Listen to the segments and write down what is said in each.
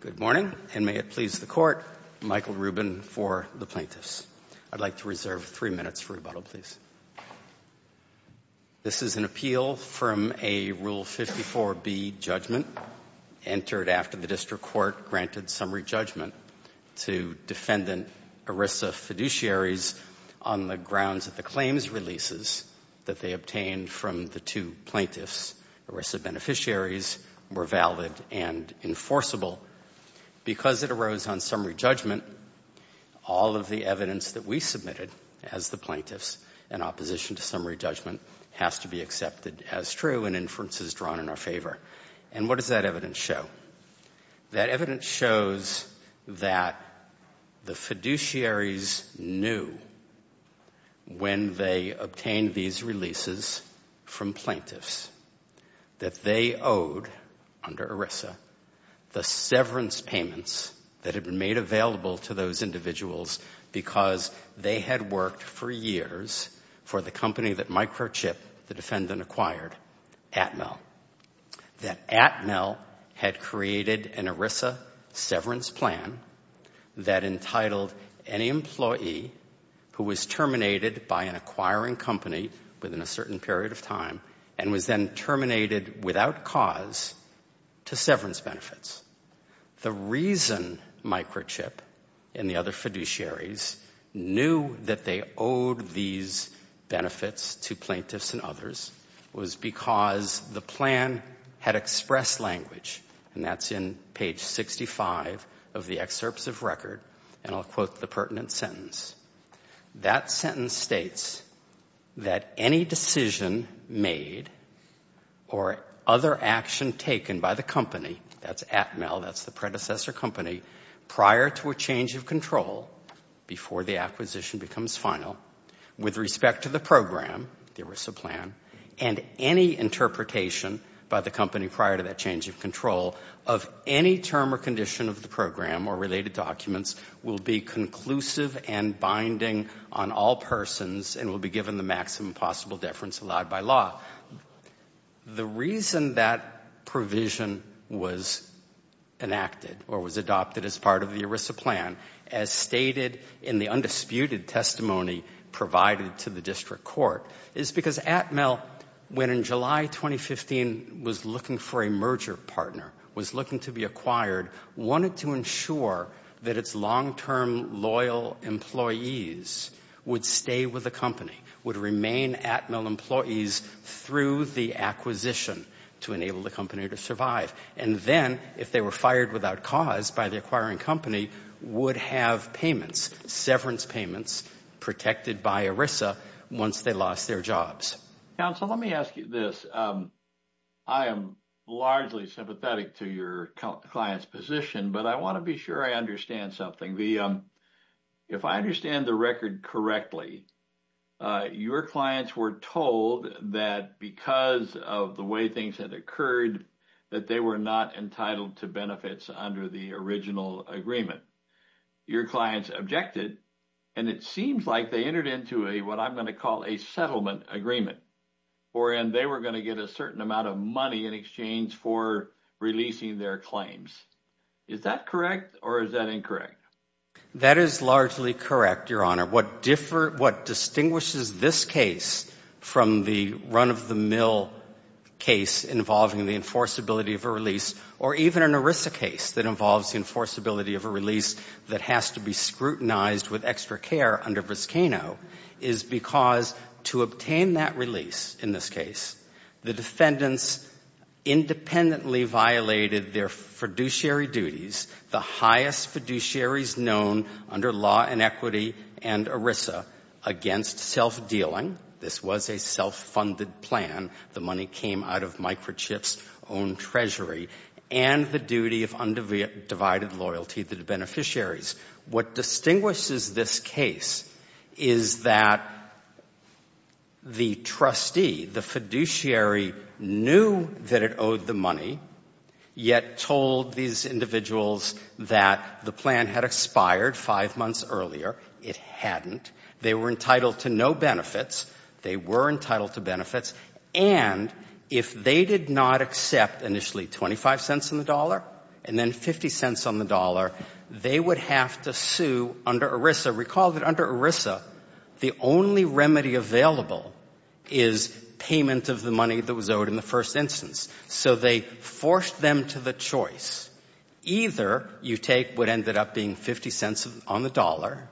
Good morning, and may it please the Court, Michael Rubin for the plaintiffs. I'd like to reserve three minutes for rebuttal, please. This is an appeal from a Rule 54b judgment entered after the District Court granted summary judgment to defendant ERISA fiduciaries on the grounds that the claims releases that they obtained from the two plaintiffs, ERISA beneficiaries, were valid and enforceable. Because it arose on summary judgment, all of the evidence that we submitted as the plaintiffs in opposition to summary judgment has to be accepted as true and inferences drawn in our favor. And what does that evidence show? That evidence shows that the fiduciaries knew when they obtained these releases from plaintiffs that they owed, under ERISA, the severance payments that had been made available to those individuals because they had worked for years for the company that Microchip, the defendant, acquired, Atmel. That Atmel had created an ERISA severance plan that entitled any employee who was terminated by an acquiring company within a certain period of time and was then terminated without cause to severance benefits. The reason Microchip and the other fiduciaries knew that they owed these benefits to plaintiffs and others was because the plan had expressed language, and that's in page 65 of the excerpts of record, and I'll quote the pertinent sentence. That sentence states that any decision made or other action taken by the company, that's Atmel, that's the predecessor company, prior to a change of control, before the acquisition becomes final, with respect to the program, the ERISA plan, and any interpretation by the company prior to that change of control of any term or condition of the program or related documents will be conclusive and binding on all persons and will be given the maximum possible deference allowed by law. The reason that provision was enacted or was adopted as part of the ERISA plan, as stated in the undisputed testimony provided to the district court, is because Atmel, when in July 2015 was looking for a merger partner, was looking to be acquired, wanted to ensure that its long-term loyal employees would stay with the company, would remain Atmel employees through the acquisition to enable the company to survive, and then, if they were fired without cause by the acquiring company, would have payments, severance payments protected by ERISA once they lost their jobs. Counsel, let me ask you this. I am largely sympathetic to your client's position, but I want to be sure I understand something. If I understand the record correctly, your clients were told that because of the way things had occurred, that they were not entitled to benefits under the original agreement. Your clients objected, and it seems like they entered into what I'm going to call a settlement agreement, wherein they were going to get a certain amount of money in exchange for releasing their claims. Is that correct or is that incorrect? That is largely correct, Your Honor. What distinguishes this case from the run-of-the-mill case involving the enforceability of a release, or even an ERISA case that involves the enforceability of a release that has to be scrutinized with extra care under Briscano is because to obtain that release in this case, the defendants independently violated their fiduciary duties, the highest fiduciaries known under law and equity and ERISA, against self-dealing. This was a self-funded plan. The money came out of Microchip's own treasury and the duty of undivided loyalty to the beneficiaries. What distinguishes this case is that the trustee, the fiduciary, knew that it owed the money, yet told these individuals that the plan had expired five months earlier. It hadn't. They were entitled to no benefits. They were entitled to benefits. And if they did not accept initially 25 cents on the dollar and then 50 cents on the dollar, they would have to sue under ERISA. Recall that under ERISA, the only remedy available is payment of the money that was owed in the first instance. So they forced them to the choice. Either you take what ended up being 50 cents on the dollar,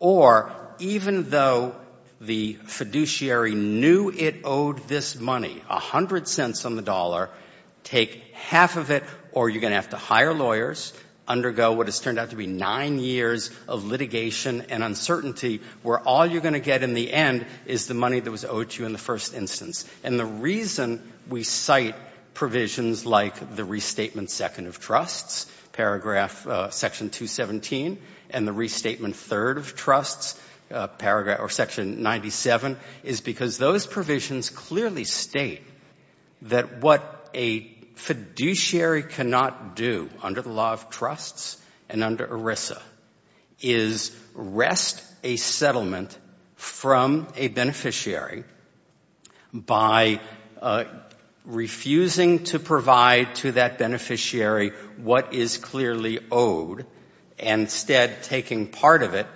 or even though the fiduciary knew it owed this money, 100 cents on the dollar, take half of it or you're going to have to hire lawyers, undergo what has turned out to be nine years of litigation and uncertainty, where all you're going to get in the end is the money that was owed to you in the first instance. And the reason we cite provisions like the restatement second of trusts, paragraph section 217, and the restatement third of trusts, section 97, is because those provisions clearly state that what a fiduciary cannot do under the law of trusts and under ERISA is rest a settlement from a beneficiary by refusing to provide to that beneficiary what is clearly owed, and instead taking part of it,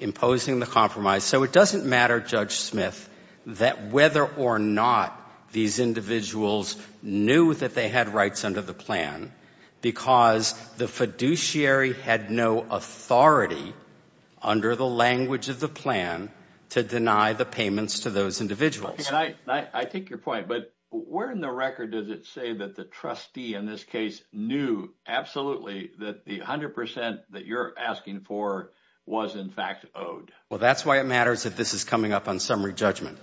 imposing the compromise. So it doesn't matter, Judge Smith, that whether or not these individuals knew that they had rights under the plan, because the fiduciary had no authority under the language of the plan to deny the payments to those individuals. I take your point, but where in the record does it say that the trustee in this case knew absolutely that the 100 percent that you're asking for was in fact owed? Well, that's why it matters that this is coming up on summary judgment,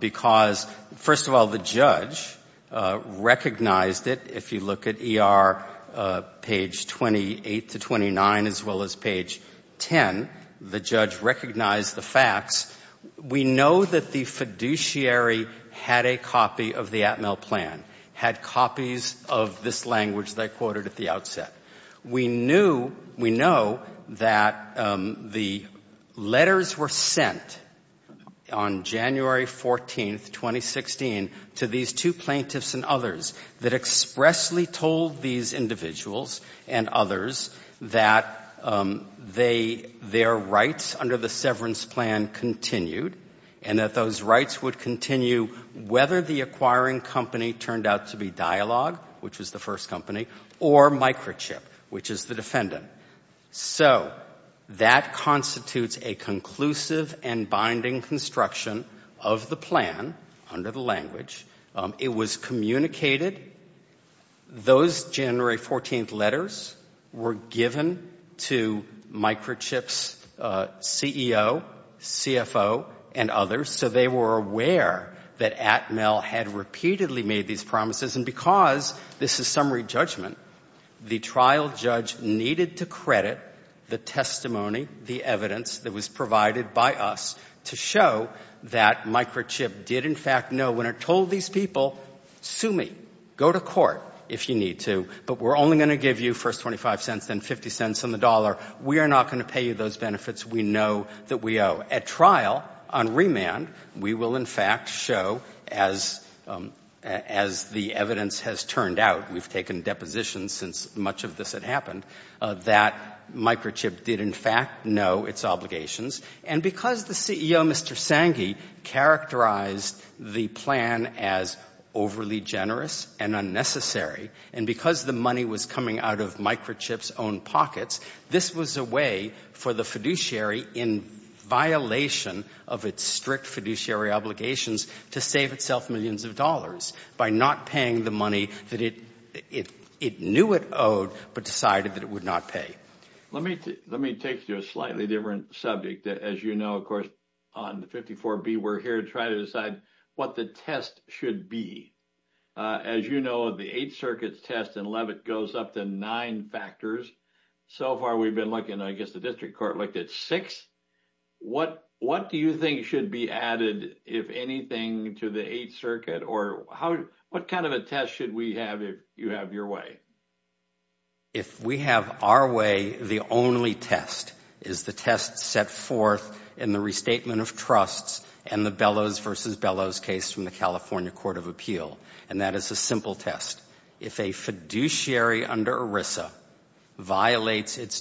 because, first of all, the judge recognized it. If you look at ER page 28 to 29, as well as page 10, the judge recognized the facts. We know that the fiduciary had a copy of the Atmel plan, had copies of this language that I quoted at the outset. We know that the letters were sent on January 14, 2016, to these two plaintiffs and others that expressly told these individuals and others that their rights under the severance plan continued and that those rights would continue whether the acquiring company turned out to be Dialog, which was the first company, or Microchip, which is the defendant. So that constitutes a conclusive and binding construction of the plan under the language. It was communicated. Those January 14 letters were given to Microchip's CEO, CFO, and others, so they were aware that Atmel had repeatedly made these promises. And because this is summary judgment, the trial judge needed to credit the testimony, the evidence that was provided by us, to show that Microchip did in fact know when it told these people, sue me, go to court if you need to, but we're only going to give you first 25 cents, then 50 cents on the dollar. We are not going to pay you those benefits we know that we owe. At trial, on remand, we will in fact show, as the evidence has turned out, we've taken depositions since much of this had happened, that Microchip did in fact know its obligations. And because the CEO, Mr. Sanghi, characterized the plan as overly generous and unnecessary, and because the money was coming out of Microchip's own pockets, this was a way for the fiduciary, in violation of its strict fiduciary obligations, to save itself millions of dollars by not paying the money that it knew it owed, but decided that it would not pay. Let me take you to a slightly different subject. As you know, of course, on 54B, we're here to try to decide what the test should be. As you know, the Eighth Circuit's test in Levitt goes up to nine factors. So far, we've been looking, I guess the district court looked at six. What do you think should be added, if anything, to the Eighth Circuit? Or what kind of a test should we have if you have your way? If we have our way, the only test is the test set forth in the restatement of trusts and the Bellows v. Bellows case from the California Court of Appeal. And that is a simple test. If a fiduciary under ERISA violates its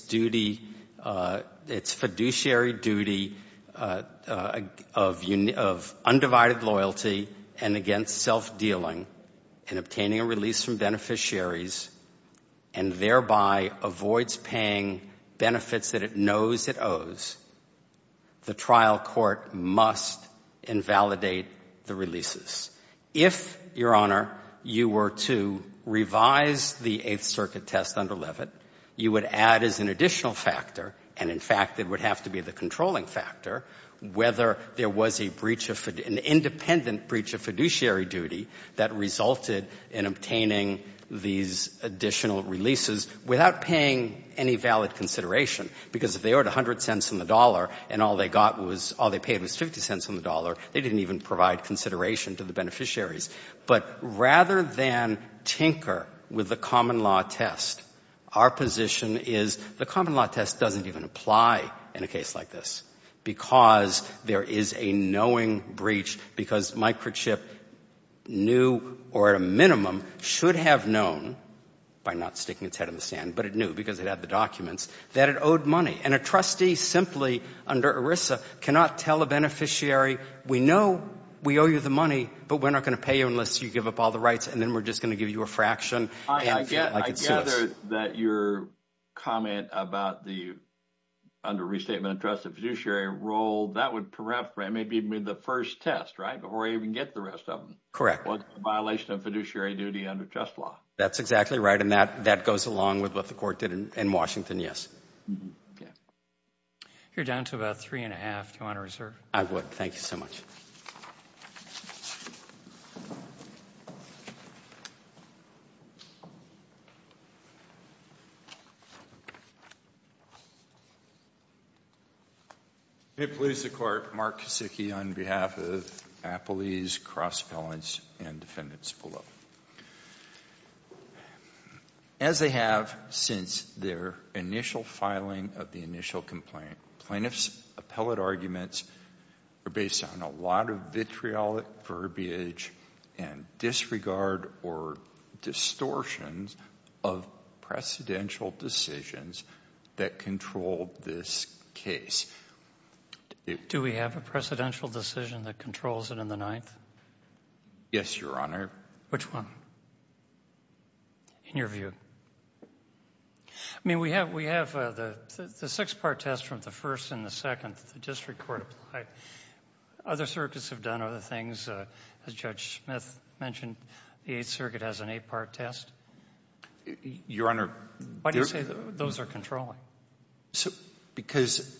fiduciary duty of undivided loyalty and against self-dealing in obtaining a release from beneficiaries and thereby avoids paying benefits that it knows it owes, the trial court must invalidate the releases. If, Your Honor, you were to revise the Eighth Circuit test under Levitt, you would add as an additional factor, and in fact it would have to be the controlling factor, whether there was an independent breach of fiduciary duty that resulted in obtaining these additional releases without paying any valid consideration. Because if they owed 100 cents on the dollar and all they paid was 50 cents on the dollar, they didn't even provide consideration to the beneficiaries. But rather than tinker with the common law test, our position is the common law test doesn't even apply in a case like this because there is a knowing breach because microchip knew or at a minimum should have known, by not sticking its head in the sand, but it knew because it had the documents, that it owed money, and a trustee simply under ERISA cannot tell a beneficiary, we know we owe you the money, but we're not going to pay you unless you give up all the rights, and then we're just going to give you a fraction. I gather that your comment about the under restatement of trust fiduciary role, that would perhaps be the first test, right, before you even get the rest of them. Correct. A violation of fiduciary duty under trust law. That's exactly right, and that goes along with what the court did in Washington, yes. You're down to about three and a half. Do you want to reserve? I would. Thank you so much. It pleases the court, Mark Kosicki, on behalf of Appley's Cross Appellants and Defendants below. As they have since their initial filing of the initial complaint, plaintiff's appellate arguments are based on a lot of vitriolic verbiage and disregard or distortions of precedential decisions that control this case. Do we have a precedential decision that controls it in the Ninth? Yes, Your Honor. Which one, in your view? I mean, we have the six-part test from the first and the second the district court applied. Other circuits have done other things. As Judge Smith mentioned, the Eighth Circuit has an eight-part test. Your Honor. Why do you say those are controlling? Because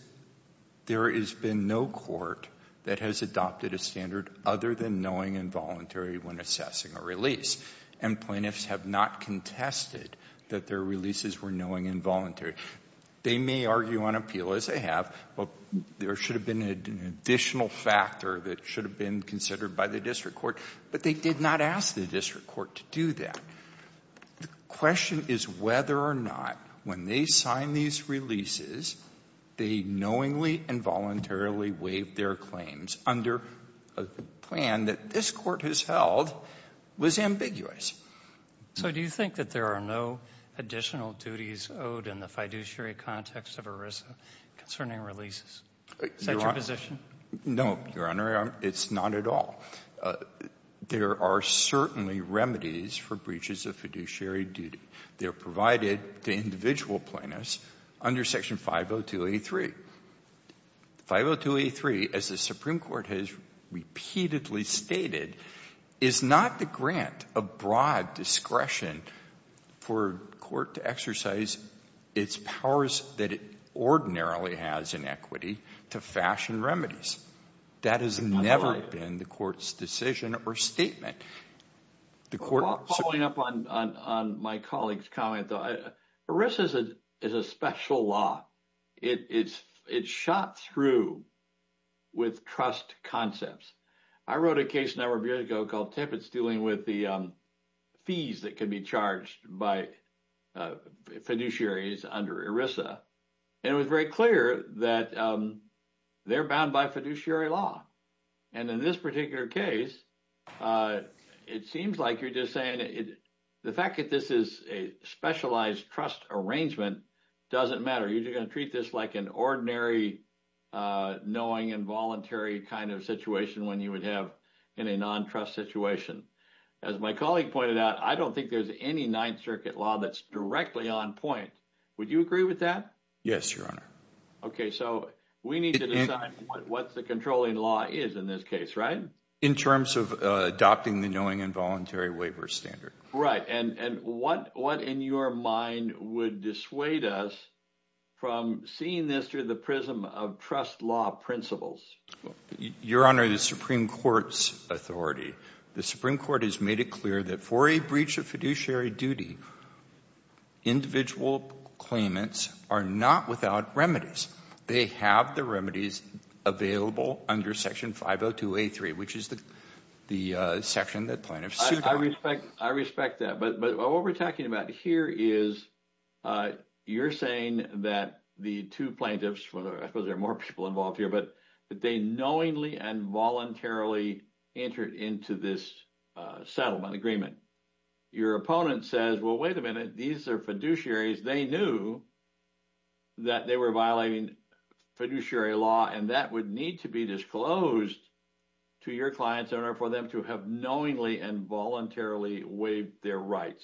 there has been no court that has adopted a standard other than knowing involuntary when assessing a release, and plaintiffs have not contested that their releases were knowing involuntary. They may argue on appeal, as they have. There should have been an additional factor that should have been considered by the district court, but they did not ask the district court to do that. The question is whether or not, when they sign these releases, they knowingly and voluntarily waive their claims under a plan that this court has held was ambiguous. So do you think that there are no additional duties owed in the fiduciary context of ERISA concerning releases? Is that your position? No, Your Honor. It's not at all. There are certainly remedies for breaches of fiduciary duty. They are provided to individual plaintiffs under Section 502A3. 502A3, as the Supreme Court has repeatedly stated, is not the grant of broad discretion for court to exercise its powers that it ordinarily has in equity to fashion remedies. That has never been the court's decision or statement. Following up on my colleague's comment, ERISA is a special law. It's shot through with trust concepts. I wrote a case a number of years ago called TIF. It's dealing with the fees that can be charged by fiduciaries under ERISA. And it was very clear that they're bound by fiduciary law. And in this particular case, it seems like you're just saying the fact that this is a specialized trust arrangement doesn't matter. You're just going to treat this like an ordinary knowing and voluntary kind of situation when you would have in a non-trust situation. As my colleague pointed out, I don't think there's any Ninth Circuit law that's directly on point. Would you agree with that? Yes, Your Honor. Okay, so we need to decide what the controlling law is in this case, right? In terms of adopting the knowing and voluntary waiver standard. Right, and what in your mind would dissuade us from seeing this through the prism of trust law principles? Your Honor, the Supreme Court's authority, the Supreme Court has made it clear that for a breach of fiduciary duty, individual claimants are not without remedies. They have the remedies available under Section 502A3, which is the section that plaintiffs suit on. I respect that, but what we're talking about here is you're saying that the two plaintiffs, I suppose there are more people involved here, but they knowingly and voluntarily entered into this settlement agreement. Your opponent says, well, wait a minute. These are fiduciaries. They knew that they were violating fiduciary law, and that would need to be disclosed to your client's owner for them to have knowingly and voluntarily waived their rights.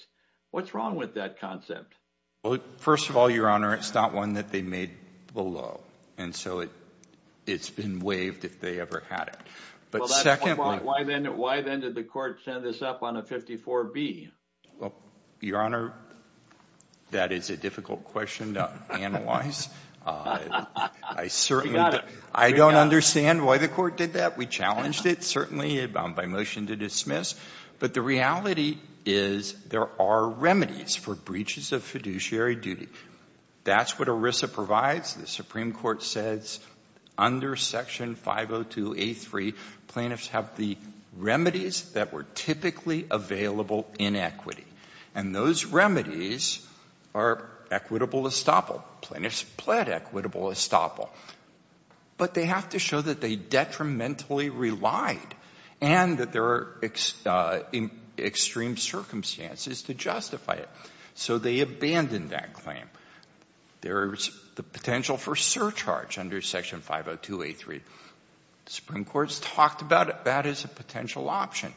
What's wrong with that concept? Well, first of all, Your Honor, it's not one that they made below, and so it's been waived if they ever had it. Well, that's one point. Why then did the court send this up on a 54B? Well, Your Honor, that is a difficult question to analyze. I certainly don't understand why the court did that. We challenged it certainly by motion to dismiss, but the reality is there are remedies for breaches of fiduciary duty. That's what ERISA provides. The Supreme Court says under Section 502A3, plaintiffs have the remedies that were typically available in equity, and those remedies are equitable estoppel. Plaintiffs pled equitable estoppel. But they have to show that they detrimentally relied and that there are extreme circumstances to justify it. So they abandoned that claim. There is the potential for surcharge under Section 502A3. The Supreme Court has talked about it. That is a potential option.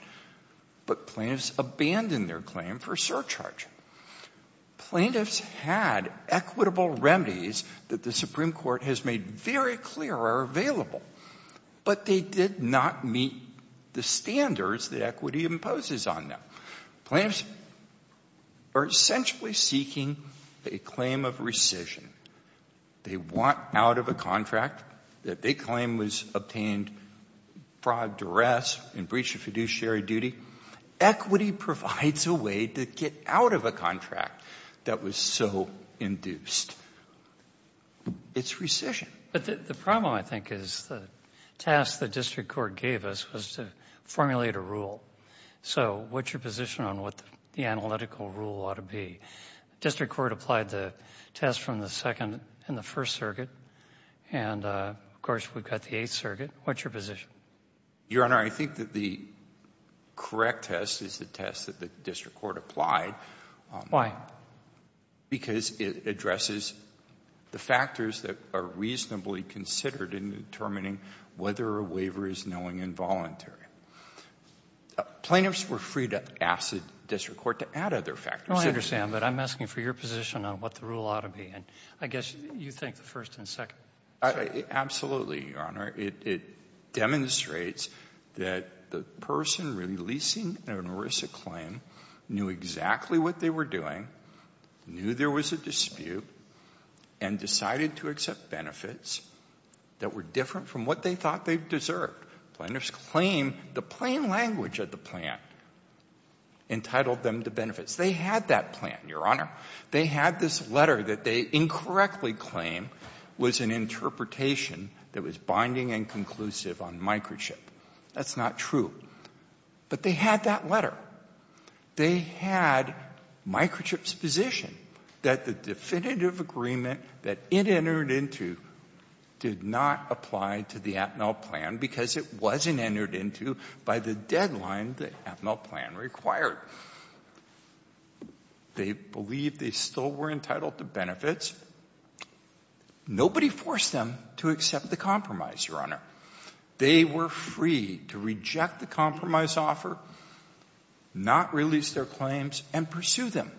But plaintiffs abandoned their claim for surcharge. Plaintiffs had equitable remedies that the Supreme Court has made very clear are available, but they did not meet the standards that equity imposes on them. Plaintiffs are essentially seeking a claim of rescission. They want out of a contract that they claim was obtained fraud, duress, and breach of fiduciary duty. Equity provides a way to get out of a contract that was so induced. It's rescission. But the problem, I think, is the task the district court gave us was to formulate a rule. So what's your position on what the analytical rule ought to be? The district court applied the test from the Second and the First Circuit, and, of course, we've got the Eighth Circuit. What's your position? Your Honor, I think that the correct test is the test that the district court applied. Why? Because it addresses the factors that are reasonably considered in determining whether a waiver is knowing involuntary. Plaintiffs were free to ask the district court to add other factors. Oh, I understand. But I'm asking for your position on what the rule ought to be. And I guess you think the First and Second Circuit. Absolutely, Your Honor. It demonstrates that the person releasing an ERISA claim knew exactly what they were doing, knew there was a dispute, and decided to accept benefits that were different from what they thought they deserved. Plaintiffs claim the plain language of the plan entitled them to benefits. They had that plan, Your Honor. They had this letter that they incorrectly claim was an interpretation that was binding and conclusive on microchip. That's not true. But they had that letter. They had microchip's position that the definitive agreement that it entered into did not apply to the Atmel plan because it wasn't entered into by the deadline the Atmel plan required. They believe they still were entitled to benefits. Nobody forced them to accept the compromise, Your Honor. They were free to reject the compromise offer, not release their claims, and pursue them.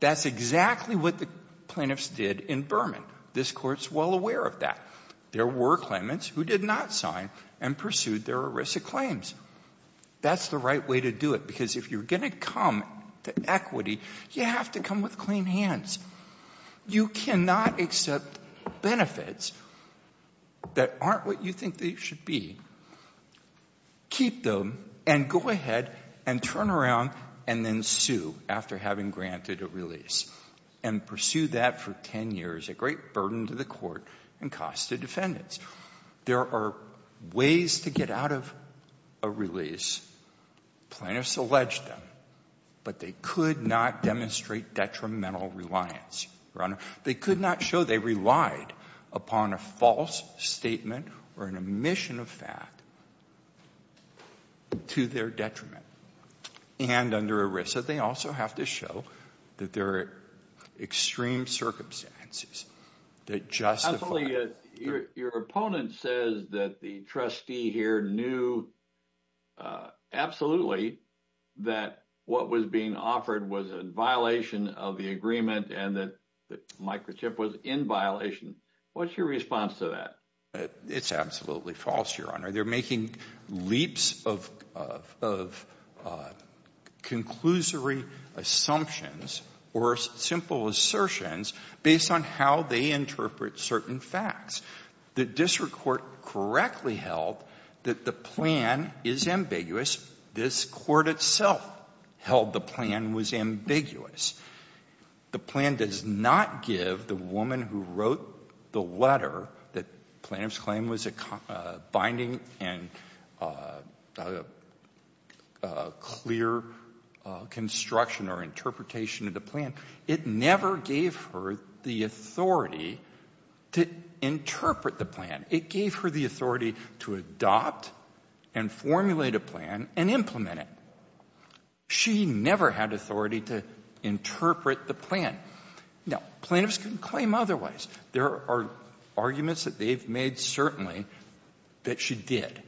That's exactly what the plaintiffs did in Berman. This Court is well aware of that. There were claimants who did not sign and pursued their ERISA claims. That's the right way to do it because if you're going to come to equity, you have to come with clean hands. You cannot accept benefits that aren't what you think they should be, keep them, and go ahead and turn around and then sue after having granted a release and pursue that for 10 years, a great burden to the Court and cost to defendants. There are ways to get out of a release. Plaintiffs alleged them, but they could not demonstrate detrimental reliance, Your Honor. They could not show they relied upon a false statement or an omission of fact to their detriment. And under ERISA, they also have to show that there are extreme circumstances that justify it. Your opponent says that the trustee here knew absolutely that what was being offered was a violation of the agreement and that the microchip was in violation. What's your response to that? It's absolutely false, Your Honor. They're making leaps of conclusory assumptions or simple assertions based on how they interpret certain facts. The district court correctly held that the plan is ambiguous. This court itself held the plan was ambiguous. The plan does not give the woman who wrote the letter that plaintiff's claim was a binding and clear construction or interpretation of the plan. It never gave her the authority to interpret the plan. It gave her the authority to adopt and formulate a plan and implement it. She never had authority to interpret the plan. Now, plaintiffs can claim otherwise. There are arguments that they've made certainly that she did,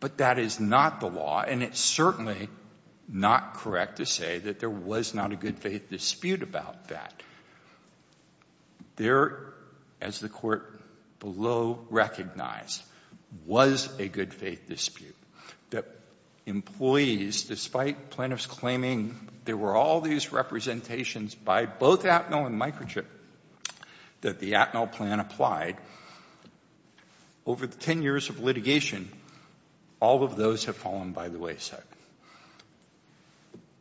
but that is not the law, and it's certainly not correct to say that there was not a good-faith dispute about that. There, as the court below recognized, was a good-faith dispute. The employees, despite plaintiffs claiming there were all these representations by both Atmel and microchip that the Atmel plan applied, over the 10 years of litigation, all of those have fallen by the wayside.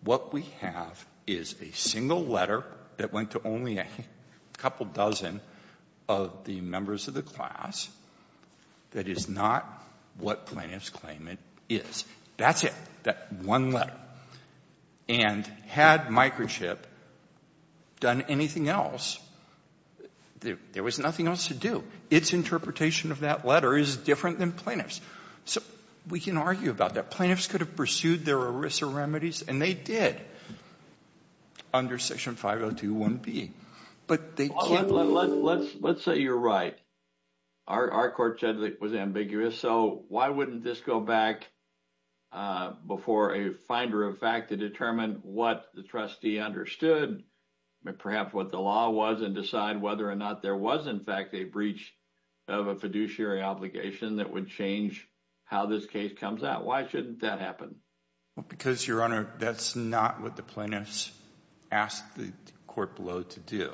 What we have is a single letter that went to only a couple dozen of the members of the class that is not what plaintiffs claim it is. That's it, that one letter. And had microchip done anything else, there was nothing else to do. Its interpretation of that letter is different than plaintiffs'. So we can argue about that. Plaintiffs could have pursued their ERISA remedies, and they did, under Section 502.1b. But they can't. Let's say you're right. Our court said it was ambiguous. So why wouldn't this go back before a finder of fact to determine what the trustee understood, perhaps what the law was, and decide whether or not there was, in fact, a breach of a fiduciary obligation that would change how this case comes out? Why shouldn't that happen? Because, Your Honor, that's not what the plaintiffs asked the court below to do.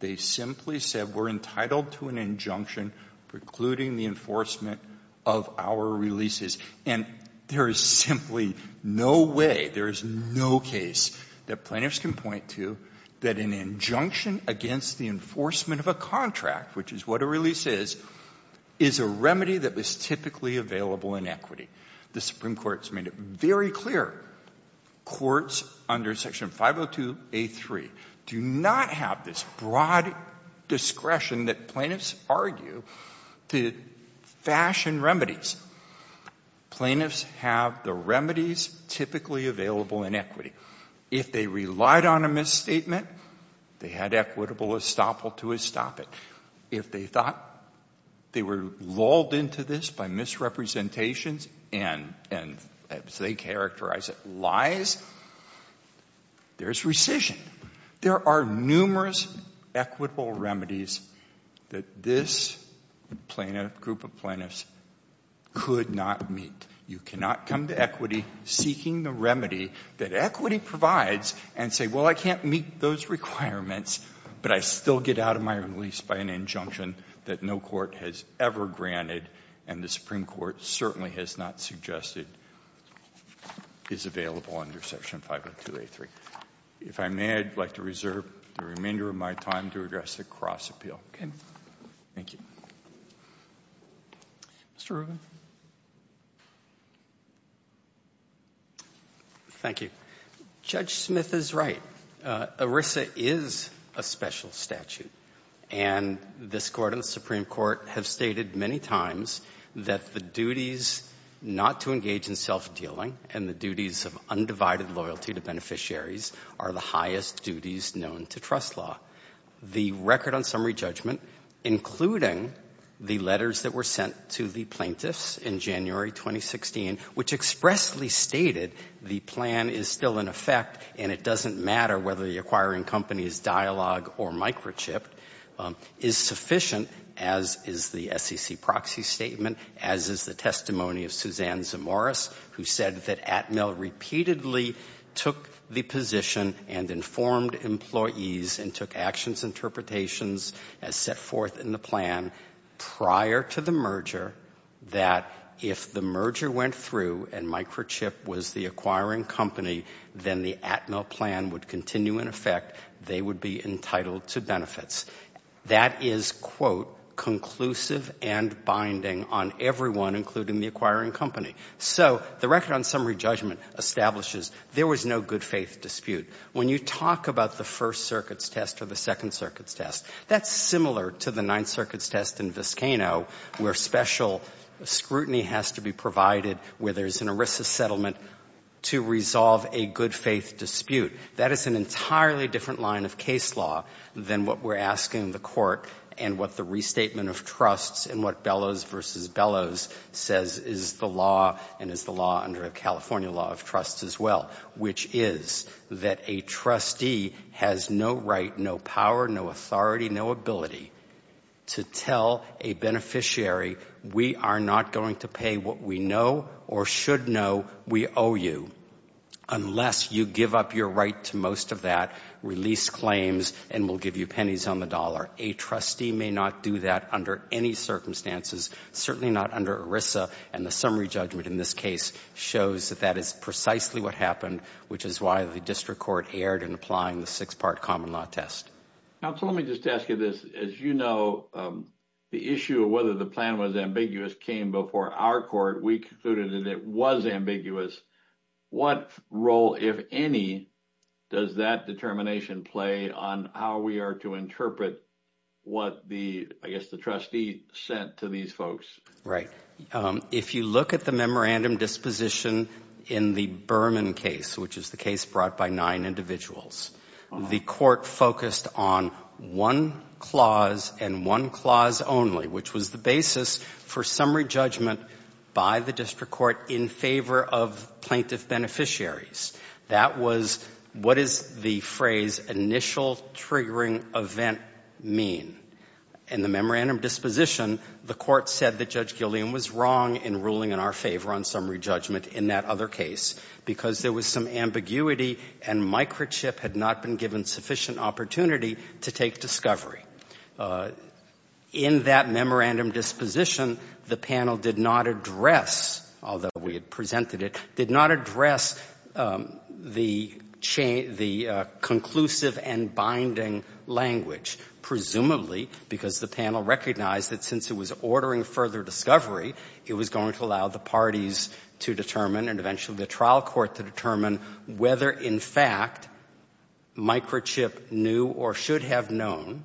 They simply said we're entitled to an injunction precluding the enforcement of our releases. And there is simply no way, there is no case that plaintiffs can point to that an injunction against the enforcement of a contract, which is what a release is, is a remedy that is typically available in equity. The Supreme Court has made it very clear courts under Section 502.a.3 do not have this broad discretion that plaintiffs argue to fashion remedies. Plaintiffs have the remedies typically available in equity. If they relied on a misstatement, they had equitable estoppel to estop it. If they thought they were lulled into this by misrepresentations and, as they characterize it, lies, there's rescission. There are numerous equitable remedies that this group of plaintiffs could not meet. You cannot come to equity seeking the remedy that equity provides and say, well, I can't meet those requirements, but I still get out of my release by an injunction that no court has ever granted and the Supreme Court certainly has not suggested is available under Section 502.a.3. If I may, I'd like to reserve the remainder of my time to address the cross appeal. Thank you. Mr. Rubin. Thank you. Judge Smith is right. ERISA is a special statute, and this Court and the Supreme Court have stated many times that the duties not to engage in self-dealing and the duties of undivided loyalty to beneficiaries are the highest duties known to trust law. The record on summary judgment, including the letters that were sent to the plaintiffs in January 2016, which expressly stated the plan is still in effect and it doesn't matter whether the acquiring company is dialogue or microchipped, is sufficient, as is the SEC proxy statement, as is the testimony of Suzanne Zamoris, who said that Atmel repeatedly took the position and informed employees and took actions and interpretations as set forth in the plan prior to the merger, that if the merger went through and microchipped was the acquiring company, then the Atmel plan would continue in effect. They would be entitled to benefits. That is, quote, conclusive and binding on everyone, including the acquiring company. So the record on summary judgment establishes there was no good-faith dispute. When you talk about the First Circuit's test or the Second Circuit's test, that's similar to the Ninth Circuit's test in Viscano where special scrutiny has to be provided where there's an ERISA settlement to resolve a good-faith dispute. That is an entirely different line of case law than what we're asking the Court and what the restatement of trusts and what Bellows v. Bellows says is the law and is the law under a California law of trusts as well, which is that a trustee has no right, no power, no authority, no ability to tell a beneficiary, we are not going to pay what we know or should know we owe you unless you give up your right to most of that, release claims, and we'll give you pennies on the dollar. A trustee may not do that under any circumstances, certainly not under ERISA, and the summary judgment in this case shows that that is precisely what happened, which is why the district court erred in applying the six-part common law test. Now, let me just ask you this. As you know, the issue of whether the plan was ambiguous came before our court. We concluded that it was ambiguous. What role, if any, does that determination play on how we are to interpret what I guess the trustee sent to these folks? Right. If you look at the memorandum disposition in the Berman case, which is the case brought by nine individuals, the court focused on one clause and one clause only, which was the basis for summary judgment by the district court in favor of plaintiff beneficiaries. That was what is the phrase initial triggering event mean? In the memorandum disposition, the court said that Judge Gillian was wrong in ruling in our favor on summary judgment in that other case because there was some ambiguity and microchip had not been given sufficient opportunity to take discovery. In that memorandum disposition, the panel did not address, although we had presented it, did not address the conclusive and binding language, presumably because the panel recognized that since it was ordering further discovery, it was going to allow the parties to determine and eventually the trial court to determine whether in fact microchip knew or should have known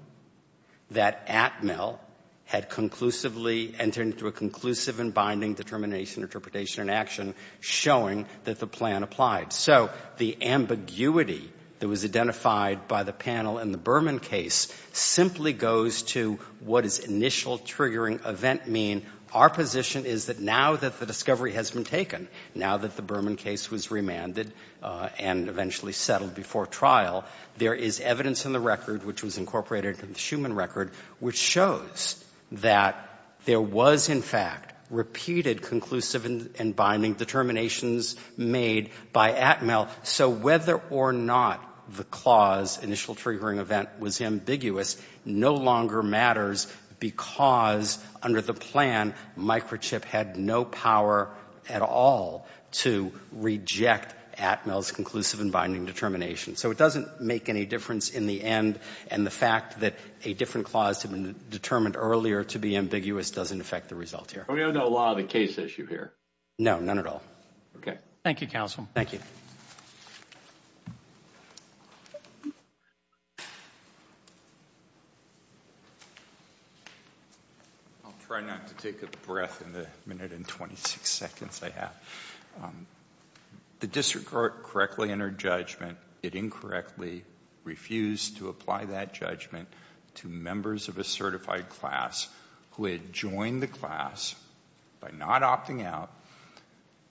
that Atmel had conclusively entered into a conclusive and binding determination, interpretation, and action showing that the plan applied. So the ambiguity that was identified by the panel in the Berman case simply goes to what is initial triggering event mean? Our position is that now that the discovery has been taken, now that the Berman case was remanded and eventually settled before trial, there is evidence in the record, which was incorporated in the Schuman record, which shows that there was in fact repeated conclusive and binding determinations made by Atmel, so whether or not the clause initial triggering event was ambiguous no longer matters because under the plan, microchip had no power at all to reject Atmel's conclusive and binding determination. So it doesn't make any difference in the end, and the fact that a different clause had been determined earlier to be ambiguous doesn't affect the result here. We don't know a lot of the case issue here? No, none at all. Okay. Thank you, counsel. Thank you. I'll try not to take a breath in the minute and 26 seconds I have. The district court correctly entered judgment. It incorrectly refused to apply that judgment to members of a certified class who had joined the class by not opting out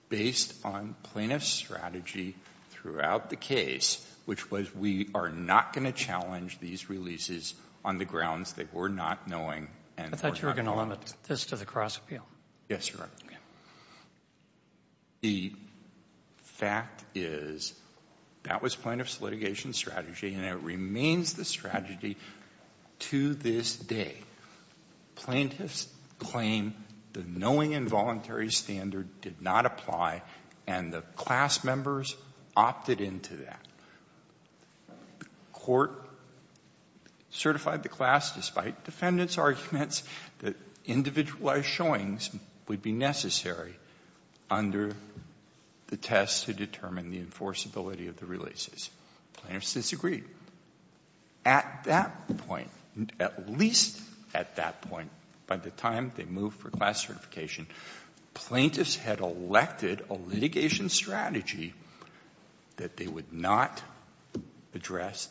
based on plaintiff's strategy throughout the case, which was we are not going to challenge these releases on the grounds that we're not knowing. I thought you were going to limit this to the cross-appeal. Yes, Your Honor. The fact is that was plaintiff's litigation strategy and it remains the strategy to this day. Plaintiffs claim the knowing involuntary standard did not apply and the class members opted into that. The court certified the class despite defendant's arguments that individualized showings would be necessary under the test to determine the enforceability of the releases. Plaintiffs disagreed. At that point, at least at that point, by the time they moved for class certification, plaintiffs had elected a litigation strategy that they would not address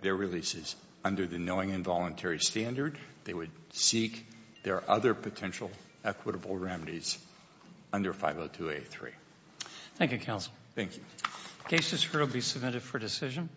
their releases under the knowing involuntary standard. They would seek their other potential equitable remedies under 502A3. Thank you, counsel. Thank you. Case discord will be submitted for decision.